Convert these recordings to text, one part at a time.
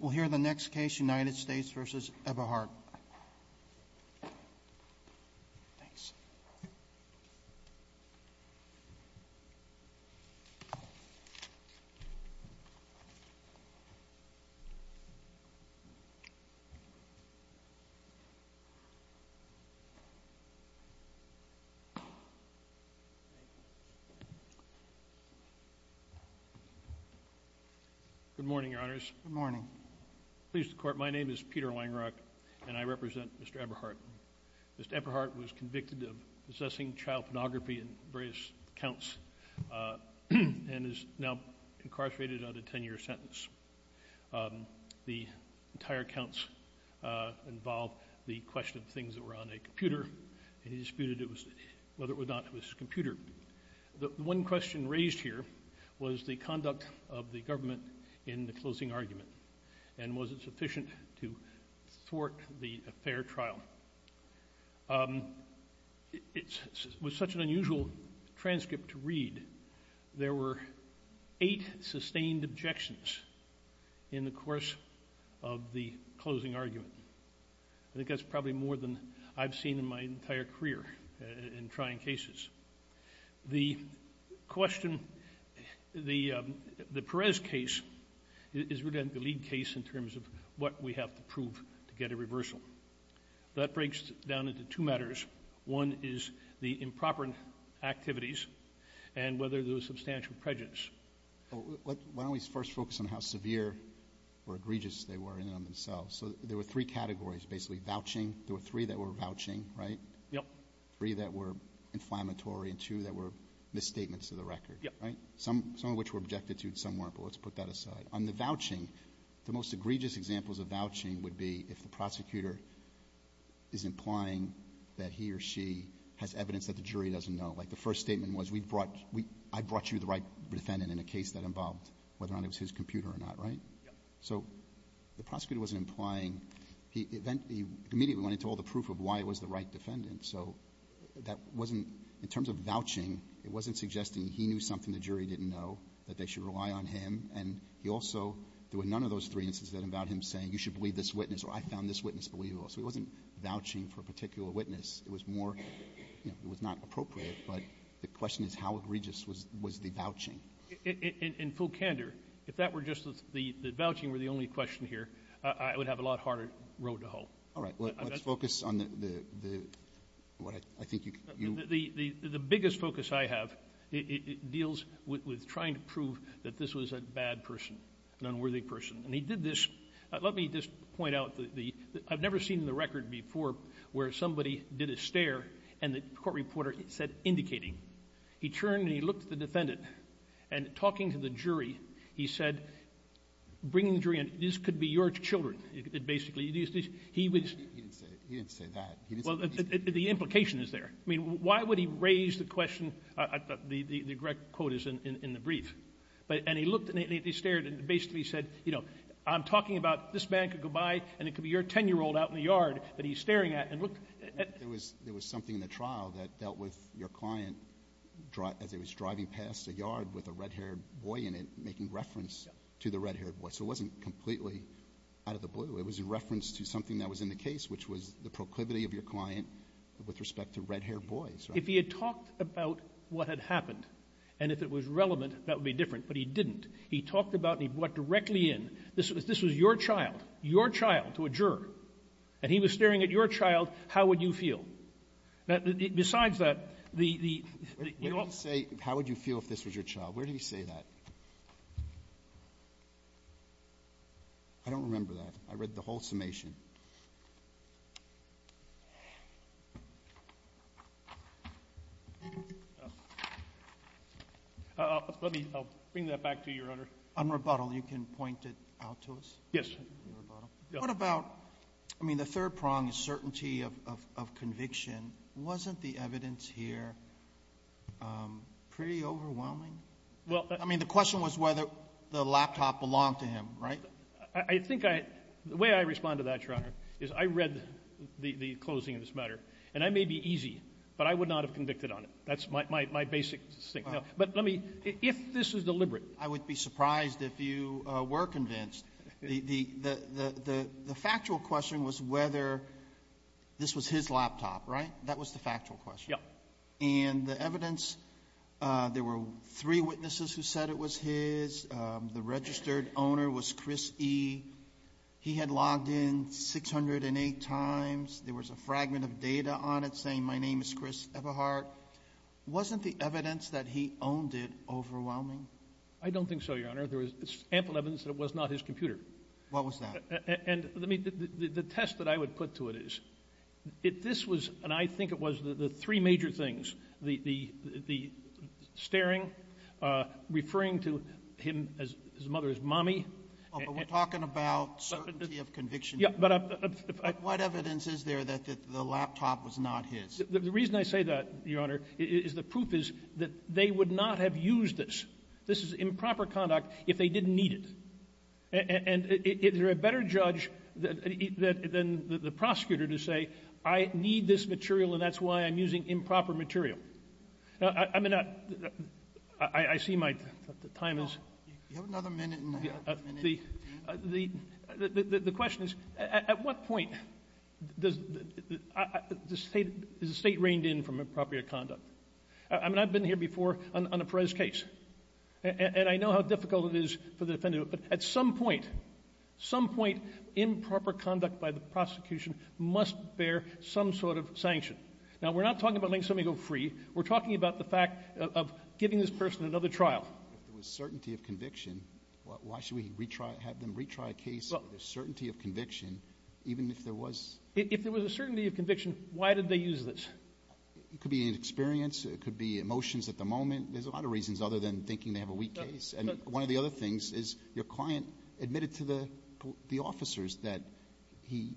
We'll hear the next case, United States v. Eberhardt. Good morning, Your Honors. Good morning. Please, the Court. My name is Peter Langrock, and I represent Mr. Eberhardt. Mr. Eberhardt was convicted of possessing child pornography in various counts and is now incarcerated on a 10-year sentence. The entire counts involve the question of things that were on a computer, and he disputed it was—whether or not it was a computer. The one question raised here was the conduct of the government in the closing argument, and was it sufficient to thwart the fair trial. It was such an unusual transcript to read. There were eight sustained objections in the course of the closing argument. I think that's probably more than I've seen in my entire career in trying cases. The question—the Perez case is really the lead case in terms of what we have to prove to get a reversal. That breaks down into two matters. One is the improper activities and whether there was substantial prejudice. Why don't we first focus on how severe or egregious they were in and of themselves. So there were three categories, basically, vouching. There were three that were vouching, right? Yep. Three that were inflammatory, and two that were misstatements of the record. Yep. Right? Some of which were objected to, and some weren't. But let's put that aside. On the vouching, the most egregious examples of vouching would be if the prosecutor is implying that he or she has evidence that the jury doesn't know. Like, the first statement was, we brought—I brought you the right defendant in a case that involved whether or not it was his computer or not, right? Yep. So the prosecutor wasn't implying—he immediately went into all the proof of why it was the right defendant. So that wasn't—in terms of vouching, it wasn't suggesting he knew something the jury didn't know, that they should rely on him. And he also—there were none of those three instances that involved him saying, you should believe this witness, or I found this witness believable. So it wasn't vouching for a particular witness. It was more—it was not appropriate, but the question is how egregious was the vouching. In full candor, if that were just the—the vouching were the only question here, I would have a lot harder road to hoe. All right. Let's focus on the—what I think you— The biggest focus I have, it deals with trying to prove that this was a bad person, an unworthy person. And he did this—let me just point out the—I've never seen in the record before where somebody did a stare and the court reporter said, indicating. He turned and he looked at the defendant, and talking to the jury, he said, bringing the jury in, this could be your children, basically. He was— He didn't say that. He didn't say that. Well, the implication is there. I mean, why would he raise the question—the correct quote is in the brief. And he looked and he stared and basically said, you know, I'm talking about this man could go by and it could be your 10-year-old out in the yard that he's staring at and look— There was something in the trial that dealt with your client as he was driving past a yard with a red-haired boy in it, making reference to the red-haired boy. So it wasn't completely out of the blue. It was a reference to something that was in the case, which was the proclivity of your client with respect to red-haired boys, right? If he had talked about what had happened and if it was relevant, that would be different, but he didn't. He talked about and he brought directly in, this was your child, your child to a new field. Besides that, the — Wait a minute. Say, how would you feel if this was your child? Where did he say that? I don't remember that. I read the whole summation. Let me bring that back to you, Your Honor. On rebuttal, you can point it out to us? Yes. On rebuttal. What about — I mean, the third prong is certainty of conviction. Wasn't the evidence here pretty overwhelming? Well — I mean, the question was whether the laptop belonged to him, right? I think I — the way I respond to that, Your Honor, is I read the closing of this matter, and I may be easy, but I would not have convicted on it. That's my basic — But let me — if this is deliberate — The factual question was whether this was his laptop, right? That was the factual question. Yeah. And the evidence — there were three witnesses who said it was his. The registered owner was Chris E. He had logged in 608 times. There was a fragment of data on it saying, my name is Chris Eberhardt. Wasn't the evidence that he owned it overwhelming? I don't think so, Your Honor. There was ample evidence that it was not his computer. What was that? And let me — the test that I would put to it is, if this was — and I think it was the three major things, the staring, referring to him as his mother's mommy — Oh, but we're talking about certainty of conviction. Yeah, but I — What evidence is there that the laptop was not his? The reason I say that, Your Honor, is the proof is that they would not have used this. This is improper conduct if they didn't need it. And is there a better judge than the prosecutor to say, I need this material, and that's why I'm using improper material? I mean, I see my — the time is — You have another minute and a half. The question is, at what point does — is the State reined in from improper conduct? I mean, I've been here before on a Perez case, and I know how difficult it is for the defendant, but at some point, some point, improper conduct by the prosecution must bear some sort of sanction. Now, we're not talking about letting somebody go free. We're talking about the fact of giving this person another trial. If there was certainty of conviction, why should we retry — have them retry a case with a certainty of conviction, even if there was — If there was a certainty of conviction, why did they use this? It could be inexperience. It could be emotions at the moment. There's a lot of reasons other than thinking they have a weak case. One of the other things is your client admitted to the officers that he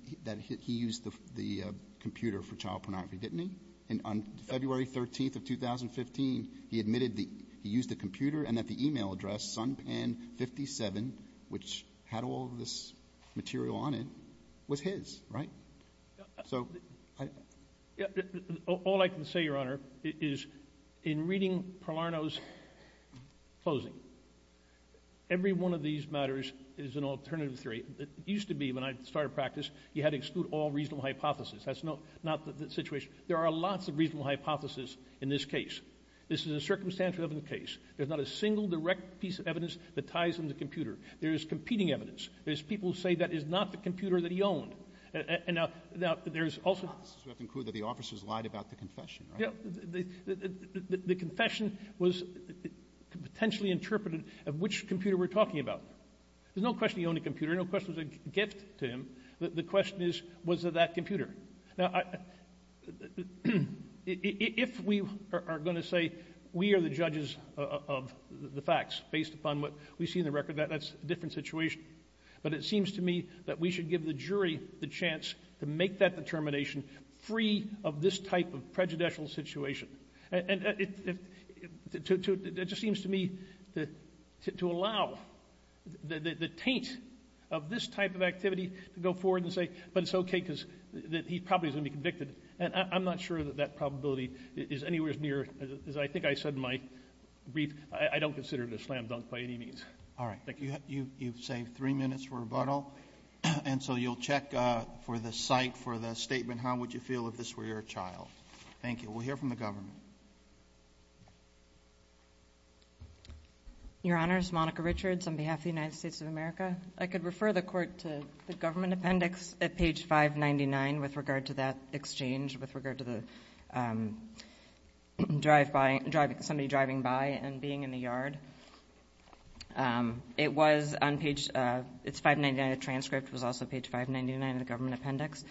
used the computer for child pornography, didn't he? And on February 13th of 2015, he admitted he used the computer and that the e-mail address, SunPan57, which had all of this material on it, was his, right? So — All I can say, Your Honor, is in reading Pilarno's closing, every one of these matters is an alternative theory. It used to be, when I started practice, you had to exclude all reasonable hypotheses. That's not the situation. There are lots of reasonable hypotheses in this case. This is a circumstantial evidence case. There's not a single direct piece of evidence that ties into the computer. There is competing evidence. There's people who say that is not the computer that he owned. And now, there's also — The hypothesis would have to include that the officers lied about the confession, right? The confession was potentially interpreted of which computer we're talking about. There's no question he owned a computer. There's no question it was a gift to him. The question is, was it that computer? Now, if we are going to say we are the judges of the facts based upon what we see in the record, that's a different situation. But it seems to me that we should give the jury the chance to make that determination free of this type of prejudicial situation. And it just seems to me to allow the taint of this type of activity to go forward and say, but it's okay because he probably is going to be convicted. And I'm not sure that that probability is anywhere near — as I think I said in my brief, I don't consider it a slam dunk by any means. All right. Thank you. You've saved three minutes for rebuttal. And so you'll check for the site, for the statement. How would you feel if this were your child? Thank you. We'll hear from the government. Your Honors, Monica Richards on behalf of the United States of America. I could refer the court to the government appendix at page 599 with regard to that exchange, with regard to somebody driving by and being in the yard. It was on page — its 599 transcript was also page 599 of the government appendix.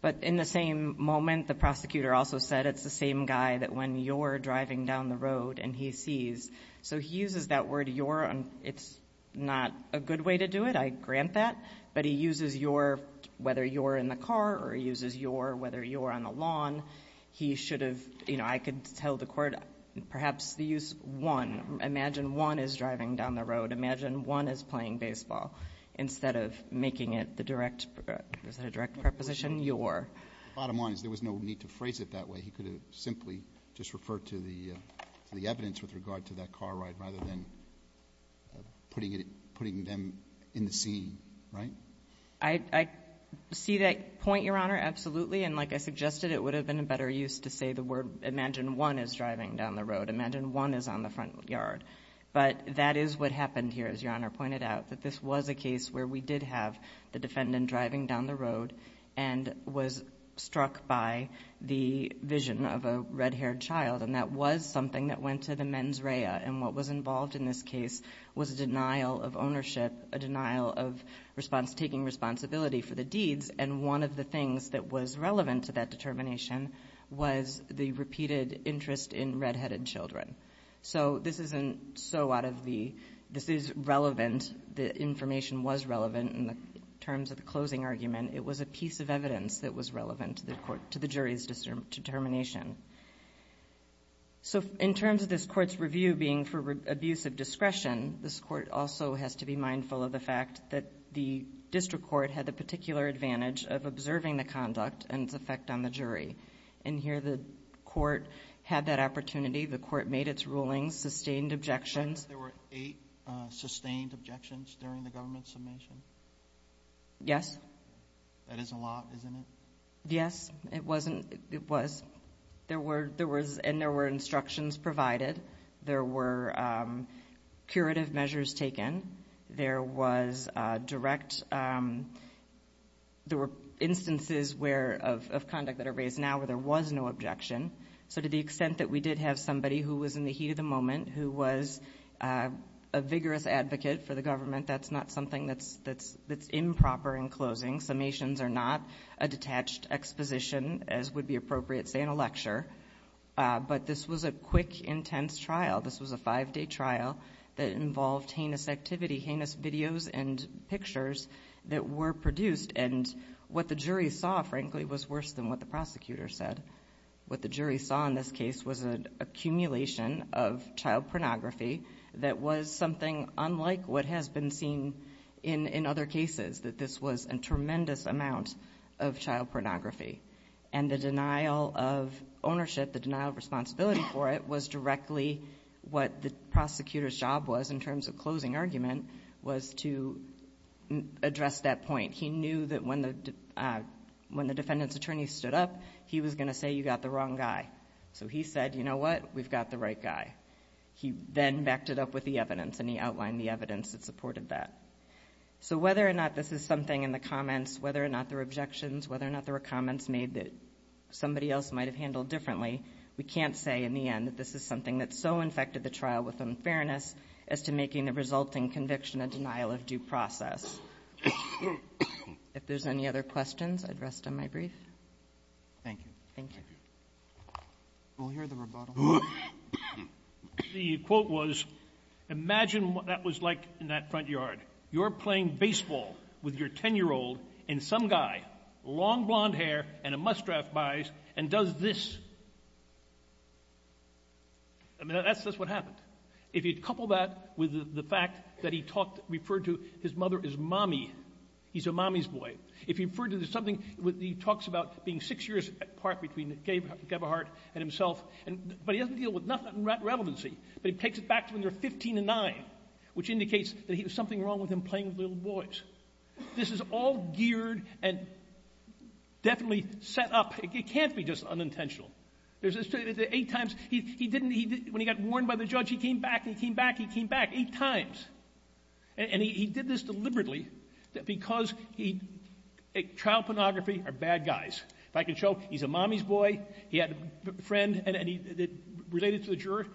But in the same moment, the prosecutor also said, it's the same guy that when you're driving down the road and he sees. So he uses that word, you're — it's not a good way to do it. I grant that. But he uses you're — whether you're in the car or he uses you're — whether you're on the lawn. He should have — you know, I could tell the court, perhaps the use one. Imagine one is driving down the road. Imagine one is playing baseball instead of making it the direct — is that a direct preposition? You're. Bottom line is there was no need to phrase it that way. He could have simply just referred to the evidence with regard to that car ride rather than putting it — putting them in the scene, right? I see that point, Your Honor, absolutely. And like I suggested, it would have been a better use to say the word, imagine one is driving down the road. Imagine one is on the front yard. But that is what happened here, as Your Honor pointed out, that this was a case where we did have the defendant driving down the road and was struck by the vision of a red-haired child. And that was something that went to the mens rea. And what was involved in this case was a denial of ownership, a denial of response — taking responsibility for the deeds. And one of the things that was relevant to that determination was the repeated interest in red-headed children. So this isn't so out of the — this is relevant. The information was relevant in terms of the closing argument. It was a piece of evidence that was relevant to the court — to the jury's determination. So in terms of this court's review being for abuse of discretion, this court also has to be mindful of the fact that the district court had the particular advantage of observing the conduct and its effect on the jury. And here the court had that opportunity. The court made its rulings, sustained objections. There were eight sustained objections during the government submission? Yes. That is a lot, isn't it? Yes, it wasn't — it was. There were — there was — and there were instructions provided. There were curative measures taken. There was direct — there were instances where — of conduct that are raised now where there was no objection. So to the extent that we did have somebody who was in the heat of the moment, who was a vigorous advocate for the government, that's not something that's improper in closing. Summations are not a detached exposition, as would be appropriate, say, in a lecture. But this was a quick, intense trial. This was a five-day trial that involved heinous activity, heinous videos and pictures that were produced. And what the jury saw, frankly, was worse than what the prosecutor said. What the jury saw in this case was an accumulation of child pornography that was something unlike what has been seen in other cases, that this was a tremendous amount of child pornography. And the denial of ownership, the denial of responsibility for it, was directly what the prosecutor's job was in terms of closing argument, was to address that point. He knew that when the — when the defendant's attorney stood up, he was going to say, you got the wrong guy. So he said, you know what? We've got the right guy. He then backed it up with the evidence, and he outlined the evidence that supported that. So whether or not this is something in the comments, whether or not there were objections, whether or not there were comments made that somebody else might have handled differently, we can't say in the end that this is something that so infected the trial with unfairness as to making the resulting conviction a denial of due process. If there's any other questions, I'd rest on my brief. Thank you. Thank you. We'll hear the rebuttal. The quote was, imagine what that was like in that front yard. You're playing baseball with your 10-year-old, and some guy, long blonde hair and a must-draft buys and does this. I mean, that's just what happened. If you'd couple that with the fact that he talked — referred to his mother as mommy, he's a mommy's boy. If he referred to something with — he talks about being six years apart between Gebhardt and himself, and — but he doesn't deal with nothing in that relevancy. But he takes it back to when they were 15 and 9, which indicates that he had something wrong with him playing with little boys. This is all geared and definitely set up. It can't be just unintentional. There's this — eight times, he didn't — when he got warned by the judge, he came back, he came back, he came back. Eight times. And he did this deliberately because he — child pornography are bad guys. If I can show, he's a mommy's boy. He had a friend, and he — related to the juror.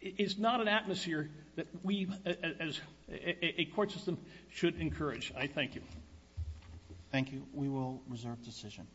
It's not an atmosphere that we, as a court system, should encourage. I thank you. Thank you. We will reserve decision.